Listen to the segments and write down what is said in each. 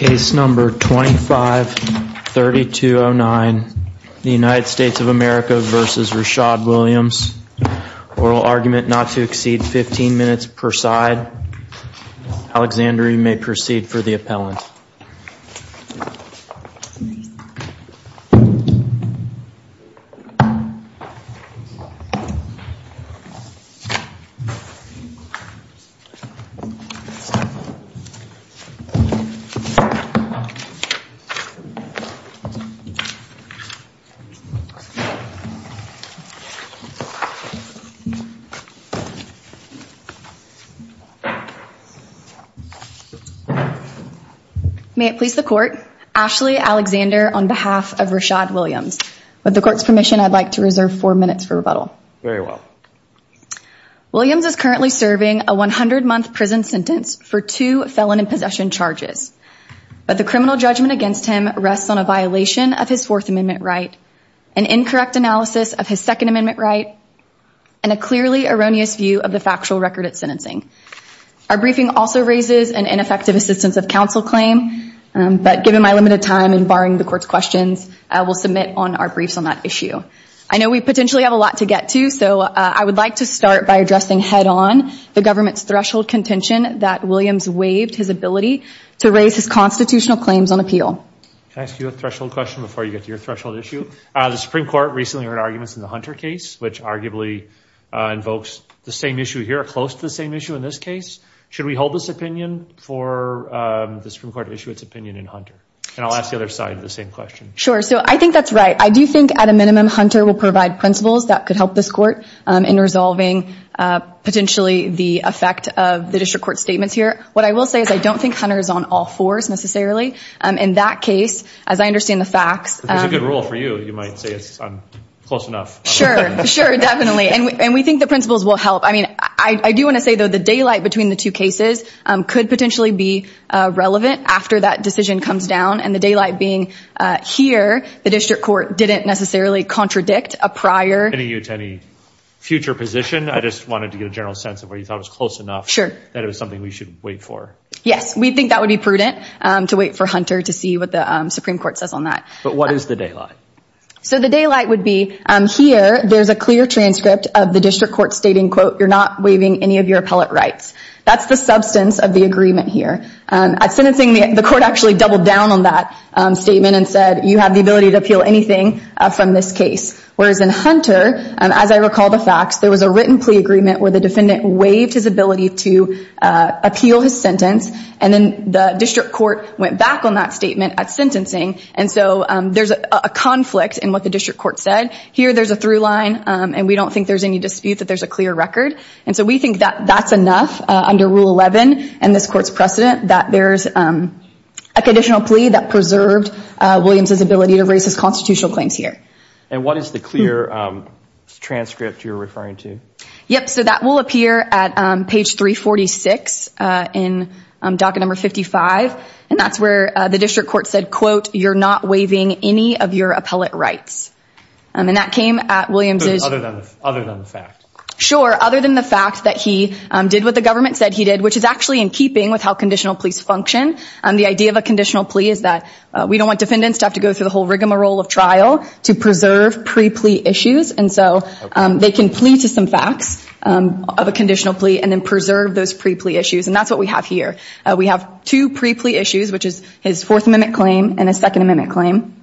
Oral argument not to exceed 15 minutes per side. Alexander, you may proceed for the appellant. May it please the court. Ashley Alexander on behalf of Rishad Williams. With the court's permission, I'd like to reserve four minutes for rebuttal. Very well. Williams is currently but the criminal judgment against him rests on a violation of his fourth amendment right, an incorrect analysis of his second amendment right, and a clearly erroneous view of the factual record at sentencing. Our briefing also raises an ineffective assistance of counsel claim but given my limited time and barring the court's questions, I will submit on our briefs on that issue. I know we potentially have a lot to get to so I would like to start by addressing head-on the government's threshold contention that Williams waived his ability to raise his constitutional claims on appeal. Can I ask you a threshold question before you get to your threshold issue? The Supreme Court recently heard arguments in the Hunter case which arguably invokes the same issue here, close to the same issue in this case. Should we hold this opinion for the Supreme Court to issue its opinion in Hunter? And I'll ask the other side the same question. Sure, so I think that's right. I do think at a minimum Hunter will provide principles that could help this court in resolving potentially the effect of the district court statements here. What I will say is I don't think Hunter is on all fours necessarily. In that case, as I understand the facts. If it's a good rule for you, you might say it's close enough. Sure, sure definitely and we think the principles will help. I mean I do want to say though the daylight between the two cases could potentially be relevant after that decision comes down and the daylight being here the district court didn't necessarily contradict a prior. Any future position? I just wanted to get a general sense of where you thought it was close enough. Sure. That it was something we should wait for. Yes, we think that would be prudent to wait for Hunter to see what the Supreme Court says on that. But what is the daylight? So the daylight would be here there's a clear transcript of the district court stating quote you're not waiving any of your appellate rights. That's the substance of the agreement here. At sentencing, the court actually doubled down on that statement and said you have the ability to appeal anything from this case. Whereas in Hunter, as I recall the facts, there was a written plea agreement where the defendant waived his ability to appeal his sentence and then the district court went back on that statement at sentencing and so there's a conflict in what the district court said. Here there's a through line and we don't think there's any dispute that there's a clear record and so we think that that's enough under rule 11 and this court's precedent that there's a conditional plea that preserved Williams's ability to raise his constitutional claims here. And what is the clear transcript you're referring to? Yep, so that will appear at page 346 in docket number 55 and that's where the district court said quote you're not waiving any of your appellate rights. And that came at Williams's... Other than the fact. Sure, other than the fact that he did what the government said he did which is actually in keeping with how conditional pleas function. The idea of a conditional plea is that we don't want defendants to have to go through the whole rigmarole of trial to preserve pre-plea issues and so they can plea to some facts of a conditional plea and then preserve those pre-plea issues and that's what we have here. We have two pre-plea issues which is his fourth amendment claim and second amendment claim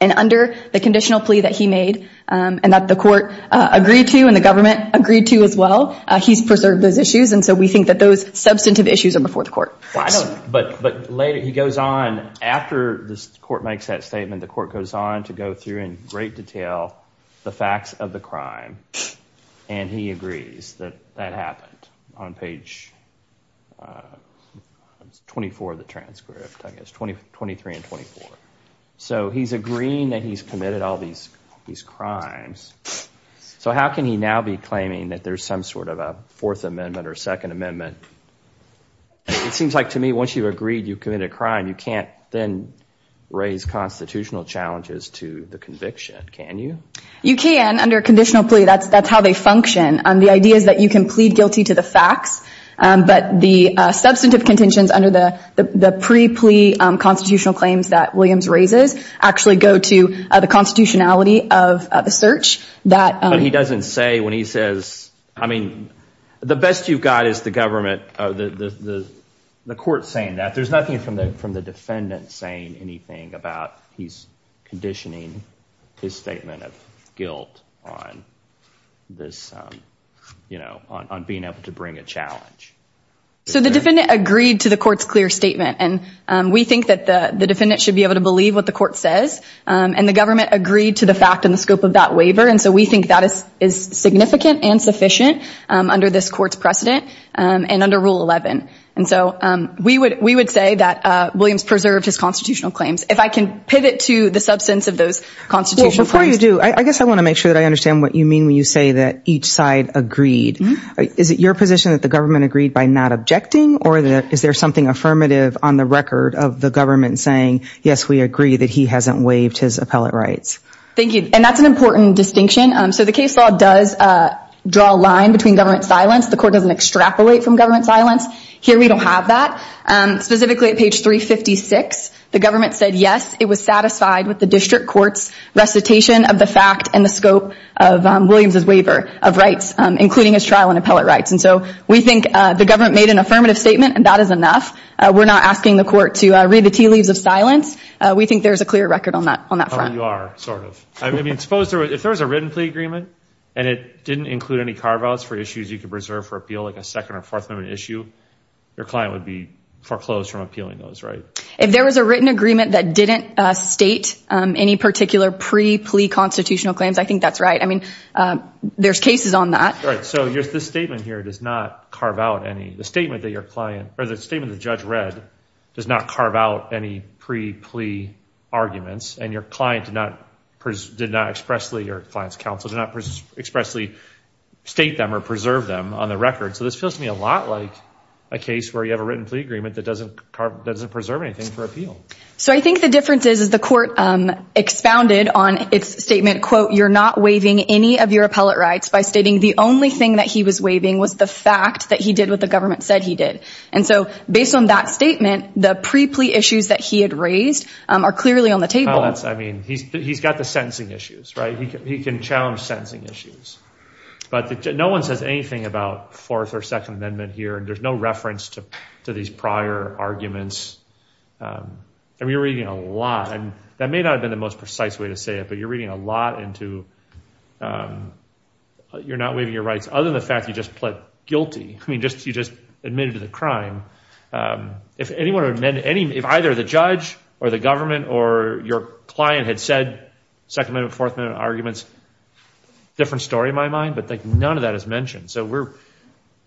and under the conditional plea that he made and that the court agreed to and the government agreed to as well, he's preserved those issues and so we think that those substantive issues are before the court. But later he goes on after this court makes that statement the court goes on to go through in great detail the facts of the crime and he agrees that that happened on page 24 of the transcript. I guess 23 and 24. So he's agreeing that he's committed all these these crimes. So how can he now be claiming that there's some sort of a fourth amendment or second amendment? It seems like to me once you've agreed you've committed a crime you can't then raise constitutional challenges to the conviction, can you? You can under conditional plea. That's how they function. The idea is that you can plead guilty to the facts but the substantive contentions under the the pre-plea constitutional claims that Williams raises actually go to the constitutionality of the search. But he doesn't say when he says, I mean the best you've got is the government, the court saying that. There's nothing from the from the defendant saying anything about he's conditioning his statement of guilt on this, you know, on being able to bring a challenge. So the defendant agreed to the court's clear statement and we think that the the defendant should be able to believe what the court says and the government agreed to the fact and the scope of that waiver and so we think that is is significant and sufficient under this court's precedent and under rule 11. And so we would we Williams preserved his constitutional claims. If I can pivot to the substance of those constitutional claims. Before you do, I guess I want to make sure that I understand what you mean when you say that each side agreed. Is it your position that the government agreed by not objecting or that is there something affirmative on the record of the government saying yes we agree that he hasn't waived his appellate rights? Thank you and that's an important distinction. So the case law does draw a line between government silence. The court doesn't extrapolate from government silence. Here we don't have that. Specifically at page 356 the government said yes it was satisfied with the district court's recitation of the fact and the scope of Williams's waiver of rights including his trial and appellate rights and so we think the government made an affirmative statement and that is enough. We're not asking the court to read the tea leaves of silence. We think there's a clear record on that on that front. You are sort of. I mean suppose there was if there was a written plea agreement and it didn't include any carve outs for issues you preserve for appeal like a second or fourth amendment issue your client would be foreclosed from appealing those right? If there was a written agreement that didn't state any particular pre-plea constitutional claims I think that's right. I mean there's cases on that. Right so your this statement here does not carve out any the statement that your client or the statement the judge read does not carve out any pre-plea arguments and your client did not expressly or your client's on the record so this feels to me a lot like a case where you have a written plea agreement that doesn't that doesn't preserve anything for appeal. So I think the difference is the court expounded on its statement quote you're not waiving any of your appellate rights by stating the only thing that he was waiving was the fact that he did what the government said he did and so based on that statement the pre-plea issues that he had raised are clearly on the table. I mean he's he's got the issues right he can he can challenge sentencing issues but no one says anything about fourth or second amendment here and there's no reference to to these prior arguments. I mean you're reading a lot and that may not have been the most precise way to say it but you're reading a lot into you're not waiving your rights other than the fact you just pled guilty. I mean just you just admitted to the crime if anyone or men any if either the judge or the government or your client had said second amendment fourth amendment arguments different story in my mind but like none of that is mentioned so we're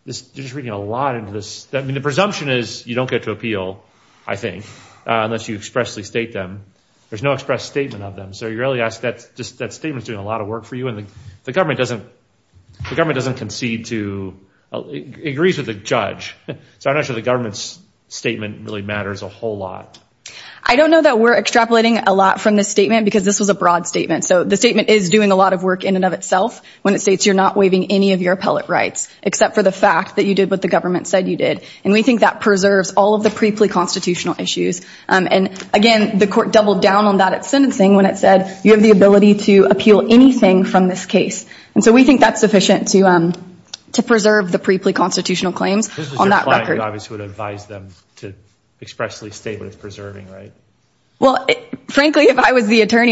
this you're just reading a lot into this I mean the presumption is you don't get to appeal I think unless you expressly state them there's no express statement of them so you really ask that just that statement's doing a lot of work for you and the government doesn't the government doesn't concede to agrees with the judge so I'm not sure the government's statement really matters a whole lot. I don't know that we're extrapolating a lot from this because this was a broad statement so the statement is doing a lot of work in and of itself when it states you're not waiving any of your appellate rights except for the fact that you did what the government said you did and we think that preserves all of the pre-plea constitutional issues and again the court doubled down on that at sentencing when it said you have the ability to appeal anything from this case and so we think that's sufficient to to preserve the pre-plea constitutional claims on that record. You obviously would advise them to expressly state what it's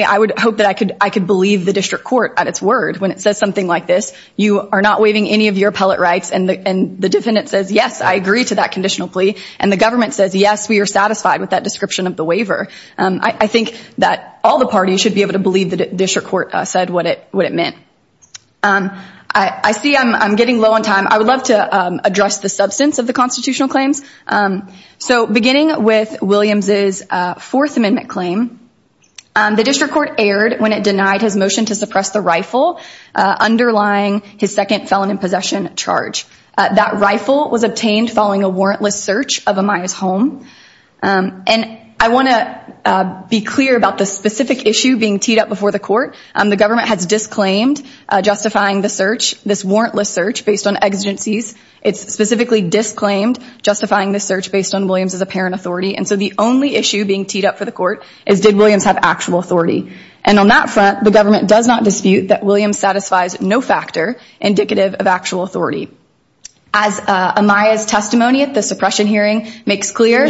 I would hope that I could I could believe the district court at its word when it says something like this you are not waiving any of your appellate rights and the and the defendant says yes I agree to that conditional plea and the government says yes we are satisfied with that description of the waiver. I think that all the parties should be able to believe the district court said what it what it meant. I see I'm getting low on time I would love to address the substance of the the district court erred when it denied his motion to suppress the rifle underlying his second felon in possession charge. That rifle was obtained following a warrantless search of Amaya's home and I want to be clear about the specific issue being teed up before the court. The government has disclaimed justifying the search this warrantless search based on exigencies it's specifically disclaimed justifying this search based on Williams as a parent authority and so the only issue being teed up for the court is did Williams have actual authority and on that front the government does not dispute that Williams satisfies no factor indicative of actual authority. As Amaya's testimony at the suppression hearing makes clear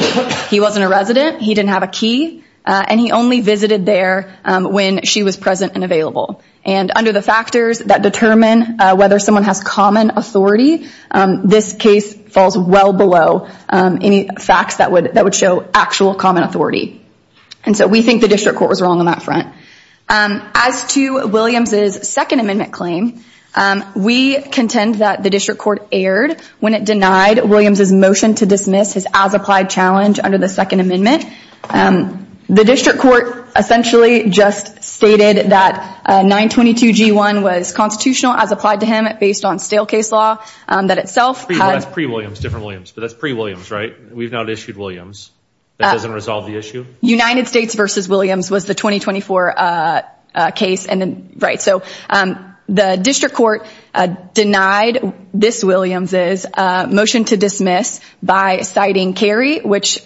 he wasn't a resident he didn't have a key and he only visited there when she was present and available and under the factors that determine whether someone has common authority this case falls well below any facts that would that would show actual common authority and so we think the district court was wrong on that front. As to Williams's second amendment claim we contend that the district court erred when it denied Williams's motion to dismiss his as applied challenge under the second amendment. The district court essentially just stated that 922 g1 was constitutional as applied to him based on stale case law that itself. That's pre-Williams different Williams but that's pre-Williams we've not issued Williams that doesn't resolve the issue. United States versus Williams was the 2024 case and then right so the district court denied this Williams's motion to dismiss by citing Kerry which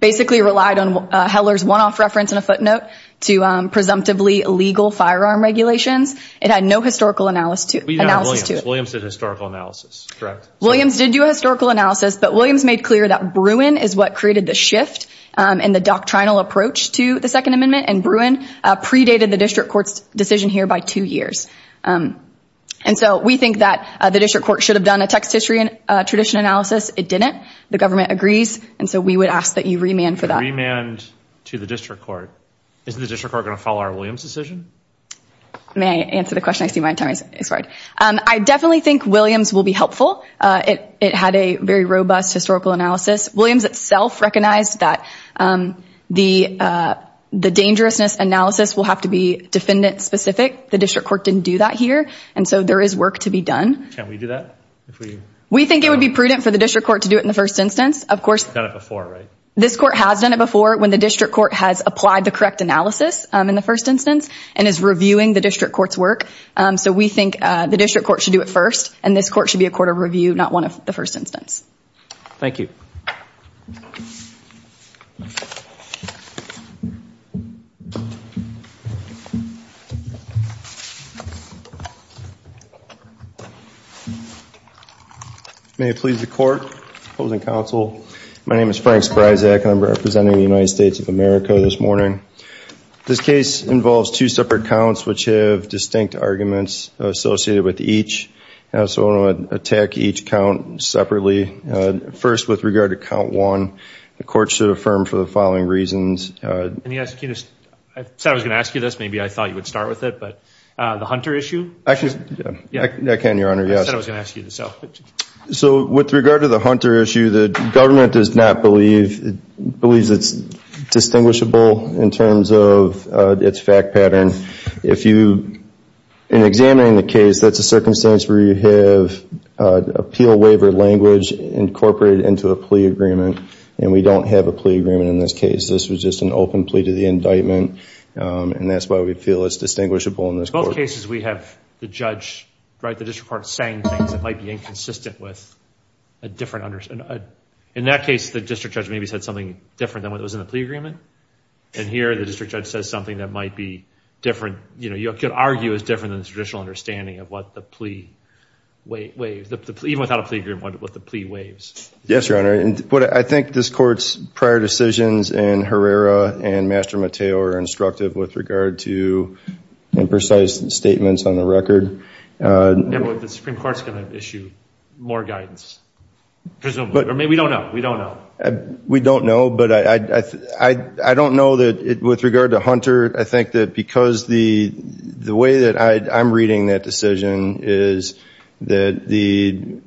basically relied on Heller's one-off reference in a footnote to presumptively legal firearm regulations it had no historical analysis to it. Williams did historical analysis correct Williams did do a historical analysis but Williams made clear that Bruin is what created the shift and the doctrinal approach to the second amendment and Bruin predated the district court's decision here by two years. And so we think that the district court should have done a text history and tradition analysis it didn't the government agrees and so we would ask that you remand for that. Remand to the district court isn't the district court going to follow our Williams decision? May I answer the question? I see my time is expired. I definitely think Williams will be helpful uh it it had a very robust historical analysis. Williams itself recognized that um the uh the dangerousness analysis will have to be defendant specific the district court didn't do that here and so there is work to be done. Can we do that? We think it would be prudent for the district court to do it in the first instance of course. It's done it before right? This court has done it before when the district court has applied the correct analysis in the first instance and is reviewing the district court's work. So we think the district court should do it first and this court should be a court of review not one of the first instance. Thank you. May it please the court opposing counsel my name is Frank Spryzak and I'm representing the United States of America this morning. This case involves two separate counts which have distinct arguments associated with each. So I'm going to attack each count separately. First with regard to count one the court should affirm for the following reasons. Can you ask you this? I said I was going to ask you this maybe I thought you would start with it but uh the Hunter issue. Actually I can your honor yes. I said I was going to ask you this. So with regard to the Hunter issue the government does not believe it believes it's distinguishable in terms of its fact pattern. If you in examining the case that's a circumstance where you have appeal waiver language incorporated into a plea agreement and we don't have a plea agreement in this case. This was just an open plea to the indictment and that's why we feel it's distinguishable in this court. In both cases we have the judge right the district court saying things that might be inconsistent with a different understand. In that case the district judge maybe said something different than what was in the plea agreement and here the district judge says something that might be different. You know you could argue it's different than the traditional understanding of what the plea waves. Even without a plea agreement what the plea waves. Yes your honor and what I think this court's prior decisions and Herrera and Master Mateo are instructive with regard to imprecise statements on the record. The supreme court's going to issue more guidance presumably or maybe we don't know. We don't know. We don't I don't know that with regard to Hunter I think that because the way that I'm reading that decision is that the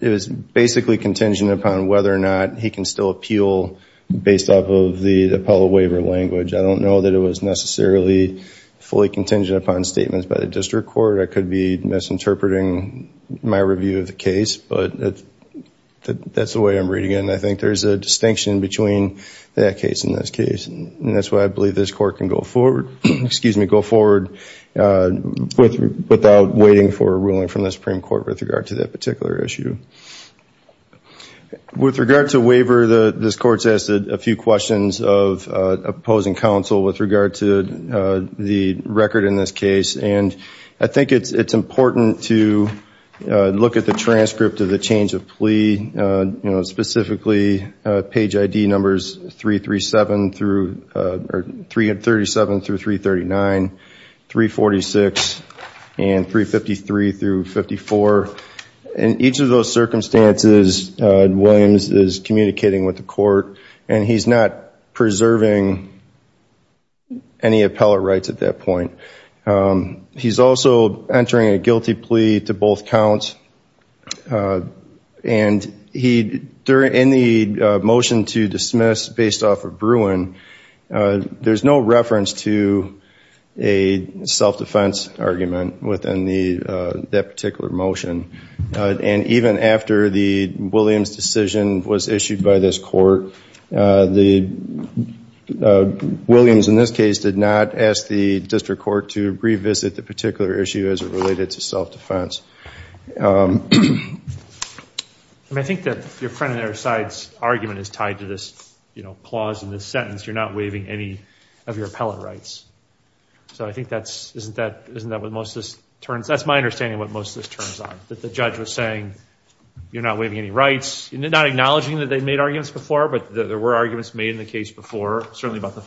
it was basically contingent upon whether or not he can still appeal based off of the appellate waiver language. I don't know that it was necessarily fully contingent upon statements by the district court. I could be misinterpreting my review of the case but that's the way I'm reading it and I think there's a distinction between that case in this case and that's why I believe this court can go forward excuse me go forward without waiting for a ruling from the supreme court with regard to that particular issue. With regard to waiver the this court's asked a few questions of opposing counsel with regard to the record in this case and I think it's it's important to look at the transcript of the change of plea you know specifically page ID numbers 337 through 337 through 339 346 and 353 through 54 in each of those circumstances Williams is communicating with the court and he's not preserving any appellate rights at that point. He's also entering a guilty plea to both counts and he during in the motion to dismiss based off of Bruin there's no reference to a self-defense argument within the that particular motion and even after the Williams decision was issued by this court the Williams in this case did not ask the district court to revisit the issue as it related to self-defense. I think that your friend and their sides argument is tied to this you know clause in this sentence you're not waiving any of your appellate rights so I think that's isn't that isn't that what most this turns that's my understanding what most of this turns on that the judge was saying you're not waiving any rights and they're not acknowledging that they made arguments before but there were arguments made in the case before certainly about the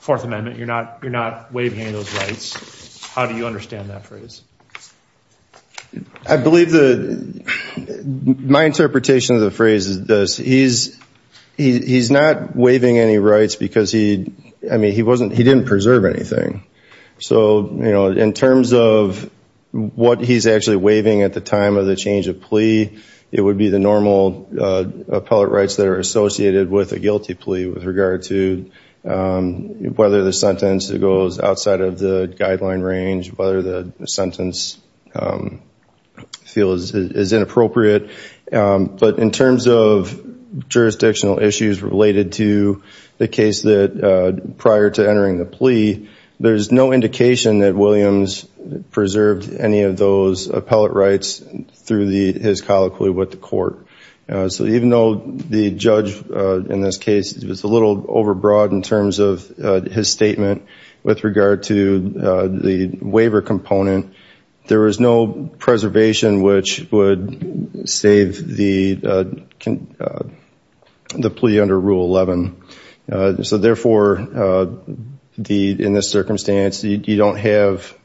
fourth amendment you're not you're not waiving any of those rights how do you understand that phrase? I believe the my interpretation of the phrase is this he's he's not waiving any rights because he I mean he wasn't he didn't preserve anything so you know in terms of what he's actually waiving at the time of the change of plea it would be the normal appellate rights that are associated with a guilty plea with regard to whether the sentence goes outside of the guideline range whether the sentence feels is inappropriate but in terms of jurisdictional issues related to the case that prior to entering the plea there's no indication that Williams preserved any of those appellate rights through the his colloquy with the court so even though the judge in this case was a little overbroad in terms of his statement with regard to the waiver component there was no preservation which would save the the plea under rule 11 so therefore the in this circumstance you don't have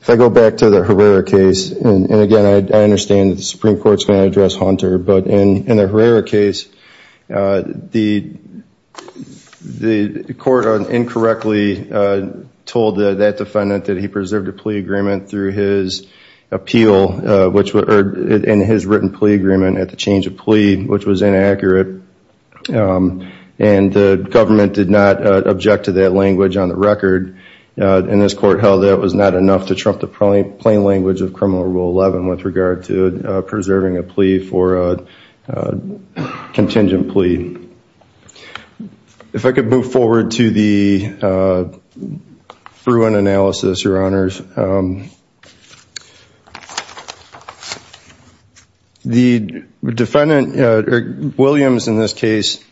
if I go back to the Herrera case and again I understand the supreme court's going to address Hunter but in in the Herrera case the the court incorrectly told that defendant that he preserved a plea agreement through his appeal which were in his written plea agreement at the change of plea which was inaccurate and the government did not object to that language on the record and this court held that was not enough to trump the plain language of criminal rule 11 with regard to preserving a plea for a contingent plea if I could move forward to the Bruin analysis your honors the defendant Williams in this case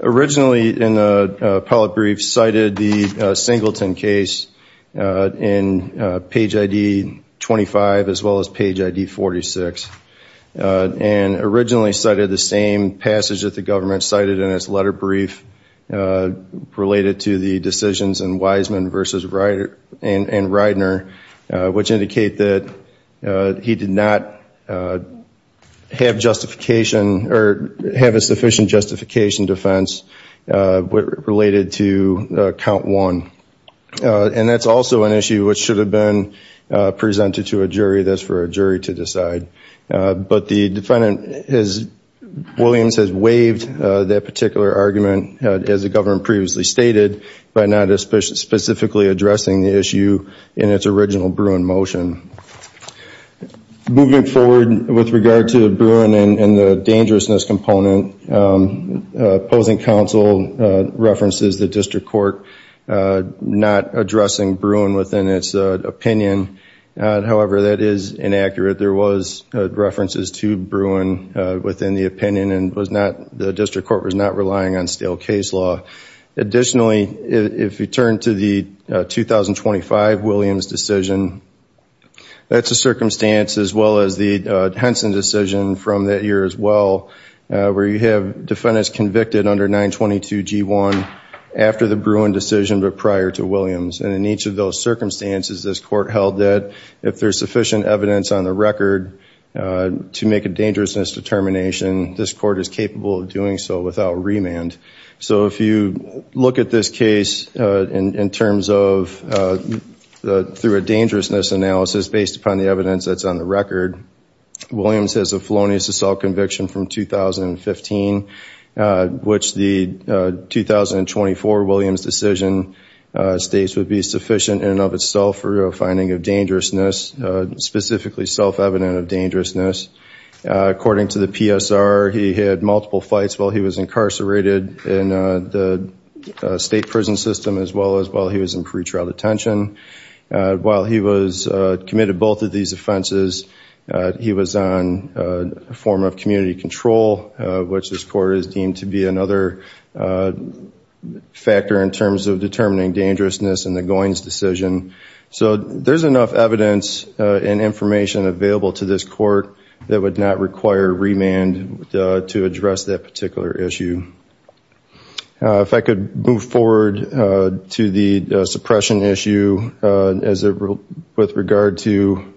originally in the appellate brief cited the Singleton case in page ID 25 as well as page ID 46 and originally cited the same passage that the government cited in its letter brief related to the decisions and Wiseman versus Ryder and and Reidner which indicate that he did not have justification or have a sufficient justification defense what related to count one and that's also an issue which should have been presented to a jury that's for a jury to decide but the defendant has Williams has waived that particular argument as the government previously stated by not especially specifically addressing the issue in its original Bruin motion moving forward with regard to Bruin and the dangerousness opposing counsel references the district court not addressing Bruin within its opinion however that is inaccurate there was references to Bruin within the opinion and was not the district court was not relying on stale case law additionally if you turn to the 2025 Williams decision that's a circumstance as well as the Henson decision from that year as well where you have defendants convicted under 922 g1 after the Bruin decision but prior to Williams and in each of those circumstances this court held that if there's sufficient evidence on the record to make a dangerousness determination this court is capable of doing so without remand so if you look at this case in terms of the through a dangerousness analysis based upon the evidence that's on the record Williams has a felonious assault conviction from 2015 which the 2024 Williams decision states would be sufficient in and of itself for a finding of dangerousness specifically self-evident of dangerousness according to the PSR he had multiple fights while he was incarcerated in the state prison system as well as while he was in pretrial detention while he was committed both of these offenses he was on a form of community control which this court is deemed to be another factor in terms of determining dangerousness in the Goins decision so there's enough evidence and information available to this court that would not require remand to address that particular issue if I could move forward to the suppression issue as a with regard to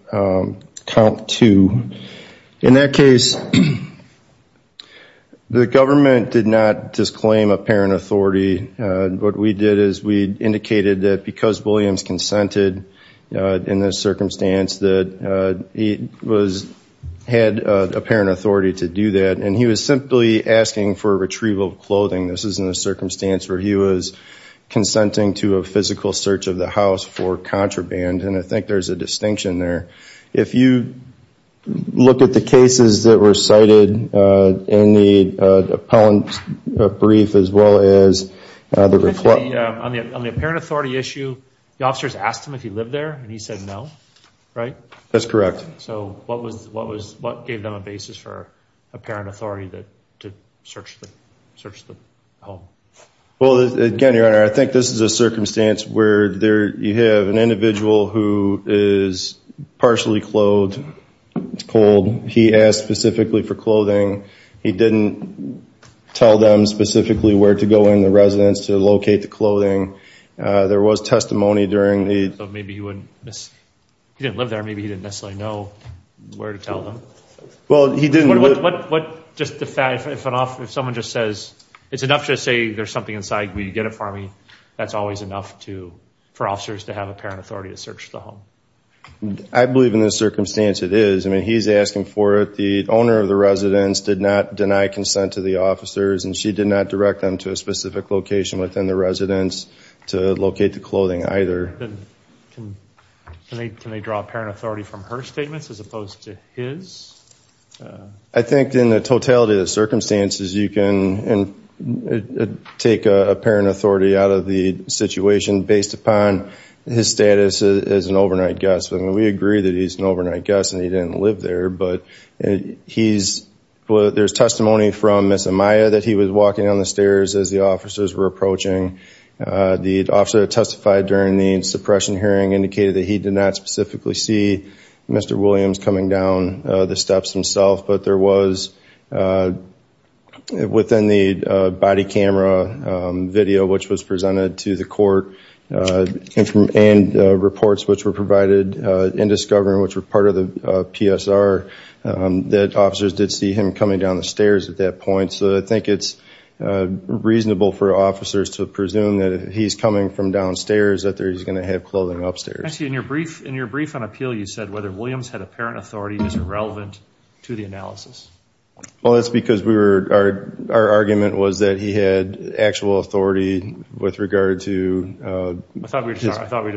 count two in that case the government did not disclaim apparent authority what we did is we indicated that because Williams consented in this circumstance that he was had apparent authority to do that and he was simply asking for retrieval of clothing this is in a circumstance where he was consenting to a physical search of the house for contraband and I think there's a distinction there if you look at the cases that were cited in the appellant brief as well as the reflect on the apparent authority issue the officers asked him if he lived there and he said no right that's correct so what was what was what gave them a basis for a parent authority that to search the search the home well again your honor I think this is a circumstance where there you have an individual who is partially clothed it's cold he asked specifically for clothing he didn't tell them specifically where to go in the residence to locate the clothing there was testimony during the maybe he wouldn't miss he didn't live there maybe he didn't necessarily know where to tell them well he didn't what what just the fact if an officer if someone just says it's enough to say there's something inside we get it for me that's always enough to for officers to have apparent authority to search the home I believe in this circumstance it is I mean he's asking for it the owner of the residence did not deny consent to the officers and she did not direct them to a specific location within the residence to locate the clothing either can they can they draw apparent authority from her statements as opposed to his I think in the totality of circumstances you can and take a parent authority out of the situation based upon his status as an overnight guest when we agree that he's an overnight guest and he didn't live there but he's there's testimony from Miss Amaya that he was walking on the stairs as the officers were approaching the officer testified during the suppression hearing indicated that he did not specifically see Mr. Williams coming down the steps himself but there was within the body camera video which was presented to the court and from and reports which were that officers did see him coming down the stairs at that point so I think it's reasonable for officers to presume that he's coming from downstairs that there he's going to have clothing upstairs I see in your brief in your brief on appeal you said whether Williams had apparent authority is irrelevant to the analysis well that's because we were our our argument was that he had actual authority with regard to I thought we were sorry I thought we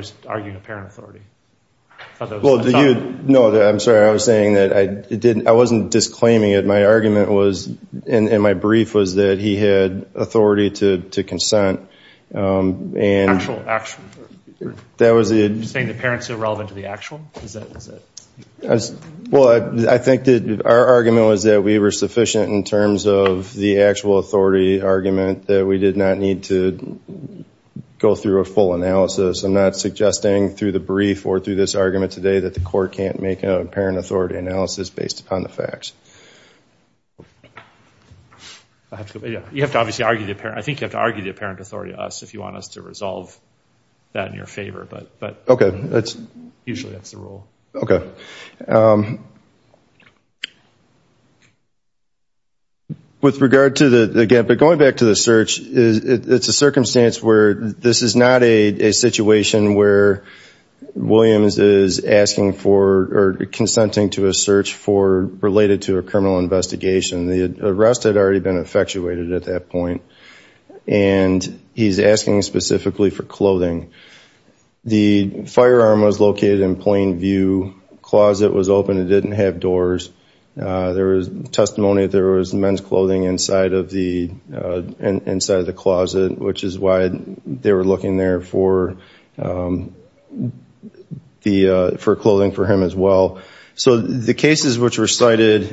wasn't disclaiming it my argument was in my brief was that he had authority to to consent and actual action that was the saying the parents irrelevant to the actual is that is that well I think that our argument was that we were sufficient in terms of the actual authority argument that we did not need to go through a full analysis I'm not suggesting through the brief or through this argument today that the court can't make a parent authority analysis based upon the facts you have to obviously argue the apparent I think you have to argue the apparent authority us if you want us to resolve that in your favor but but okay that's usually that's the rule okay with regard to the again but going back to the search is it's a circumstance where this is not a situation where Williams is asking for or consenting to a search for related to a criminal investigation the arrest had already been effectuated at that point and he's asking specifically for clothing the firearm was located in plain view closet was open it didn't have doors there was testimony there was men's clothing inside of the inside of the closet which is why they were looking there for the for clothing for him as well so the cases which were cited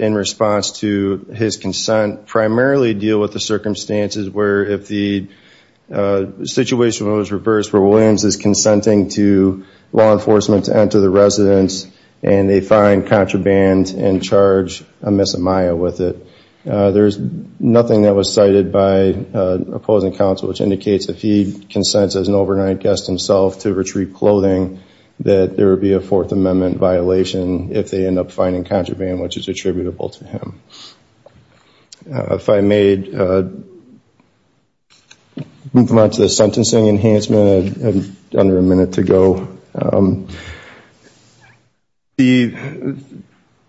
in response to his consent primarily deal with the circumstances where if the situation was reversed where Williams is consenting to law enforcement to enter the residence and they find contraband and charge a miss Amaya with it there's nothing that was cited by opposing counsel which indicates if he consents as an overnight guest himself to retrieve clothing that there would be a fourth amendment violation if they end up finding contraband which is attributable to him if I made move on to the sentencing enhancement under a minute to go the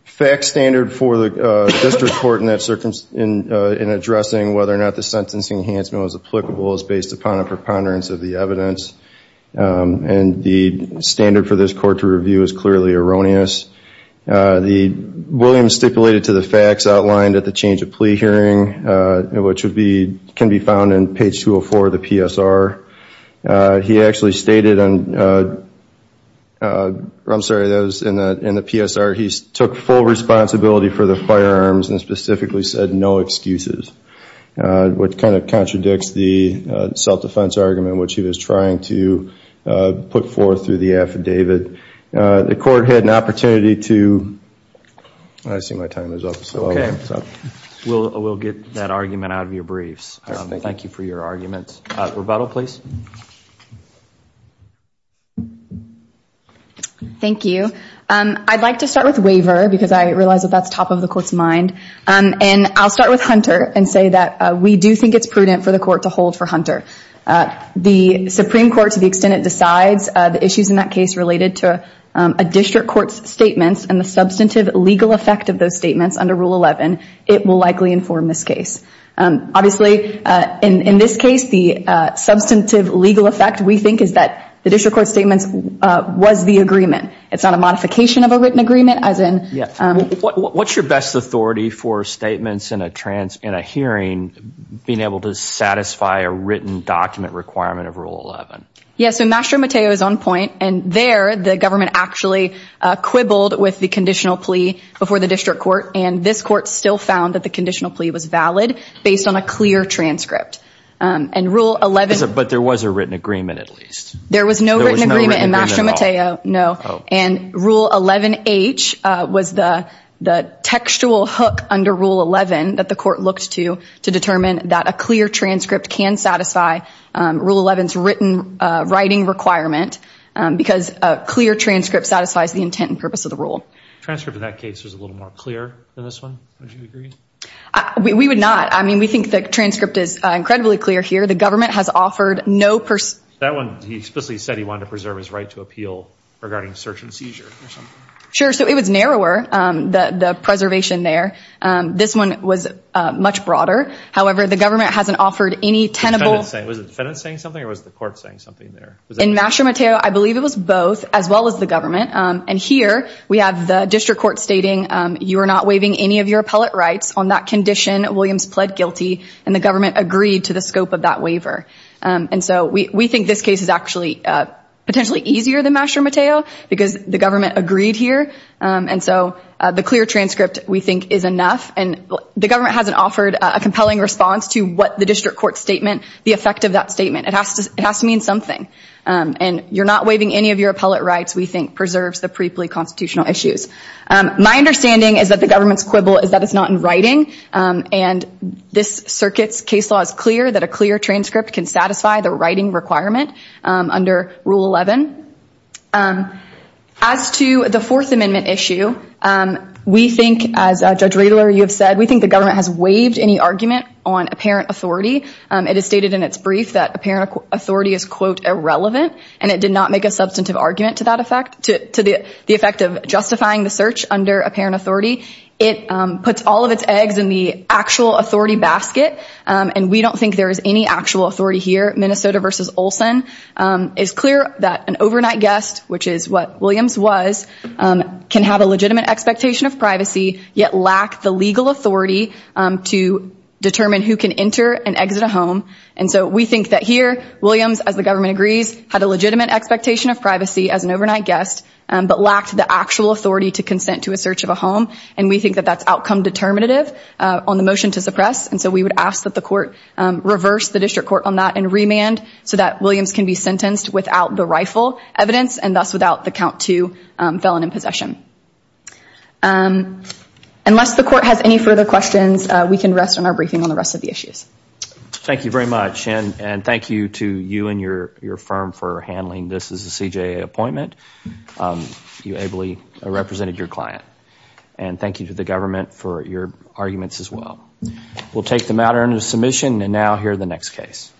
fact standard for the district court in that circumstance in in addressing whether or not the sentencing enhancement was applicable is based upon a preponderance of the evidence and the standard for this court to review is clearly erroneous the Williams stipulated to the facts outlined at the change of plea hearing which would be can be found in page 204 of the PSR he actually stated and I'm sorry that was in the in the PSR he took full responsibility for the firearms and specifically said no excuses which kind of contradicts the self-defense argument which he was trying to put forth through the affidavit the court had an opportunity to I see my time is up so okay we'll we'll get that argument out of your briefs thank you for your arguments rebuttal please thank you I'd like to start with waiver because I realize that that's top of the court's mind and I'll start with Hunter and say that we do think it's prudent for the court to hold for Hunter the Supreme Court to the extent it decides the issues in that case related to a district court's statements and the substantive legal effect of those statements under it will likely inform this case obviously in in this case the substantive legal effect we think is that the district court statements was the agreement it's not a modification of a written agreement as in yeah what's your best authority for statements in a trans in a hearing being able to satisfy a written document requirement of rule 11 yes so master mateo is on point and there the actually uh quibbled with the conditional plea before the district court and this court still found that the conditional plea was valid based on a clear transcript um and rule 11 but there was a written agreement at least there was no written agreement no and rule 11 h uh was the the textual hook under rule 11 that the court looked to to determine that a clear transcript can satisfy rule 11's written writing requirement because a clear transcript satisfies the intent and purpose of the rule transcript in that case was a little more clear than this one would you agree we would not i mean we think the transcript is incredibly clear here the government has offered no person that one he explicitly said he wanted to preserve his right to appeal regarding search and seizure or something sure so it was narrower um the the was the defendant saying something or was the court saying something there in master mateo i believe it was both as well as the government um and here we have the district court stating um you are not waiving any of your appellate rights on that condition williams pled guilty and the government agreed to the scope of that waiver um and so we we think this case is actually uh potentially easier than master mateo because the government agreed here um and so the clear transcript we think is enough and the government hasn't offered a compelling response to what the district court statement the effect of that statement it has to it has to mean something um and you're not waiving any of your appellate rights we think preserves the briefly constitutional issues um my understanding is that the government's quibble is that it's not in writing um and this circuit's case law is clear that a clear transcript can satisfy the writing requirement um under rule 11 um as to the fourth amendment issue um we think as a judge reidler you have said we think the government has waived any argument on apparent authority um it is stated in its brief that apparent authority is quote irrelevant and it did not make a substantive argument to that effect to the effect of justifying the search under apparent authority it um puts all of its eggs in the actual authority basket um and we don't think there is any actual authority here minnesota versus olson um is clear that an overnight guest which is what williams was um can have a legitimate expectation of privacy yet lack the legal authority um to determine who can enter and exit a home and so we think that here williams as the government agrees had a legitimate expectation of privacy as an overnight guest but lacked the actual authority to consent to a search of a home and we think that that's outcome determinative uh on the motion to suppress and so we would ask that the court um reverse the district court on that and remand so that can be sentenced without the rifle evidence and thus without the count to um felon in possession um unless the court has any further questions we can rest on our briefing on the rest of the issues thank you very much and and thank you to you and your your firm for handling this as a cj appointment you ably represented your client and thank you to the government for your arguments as well we'll take the matter under submission and now here the next case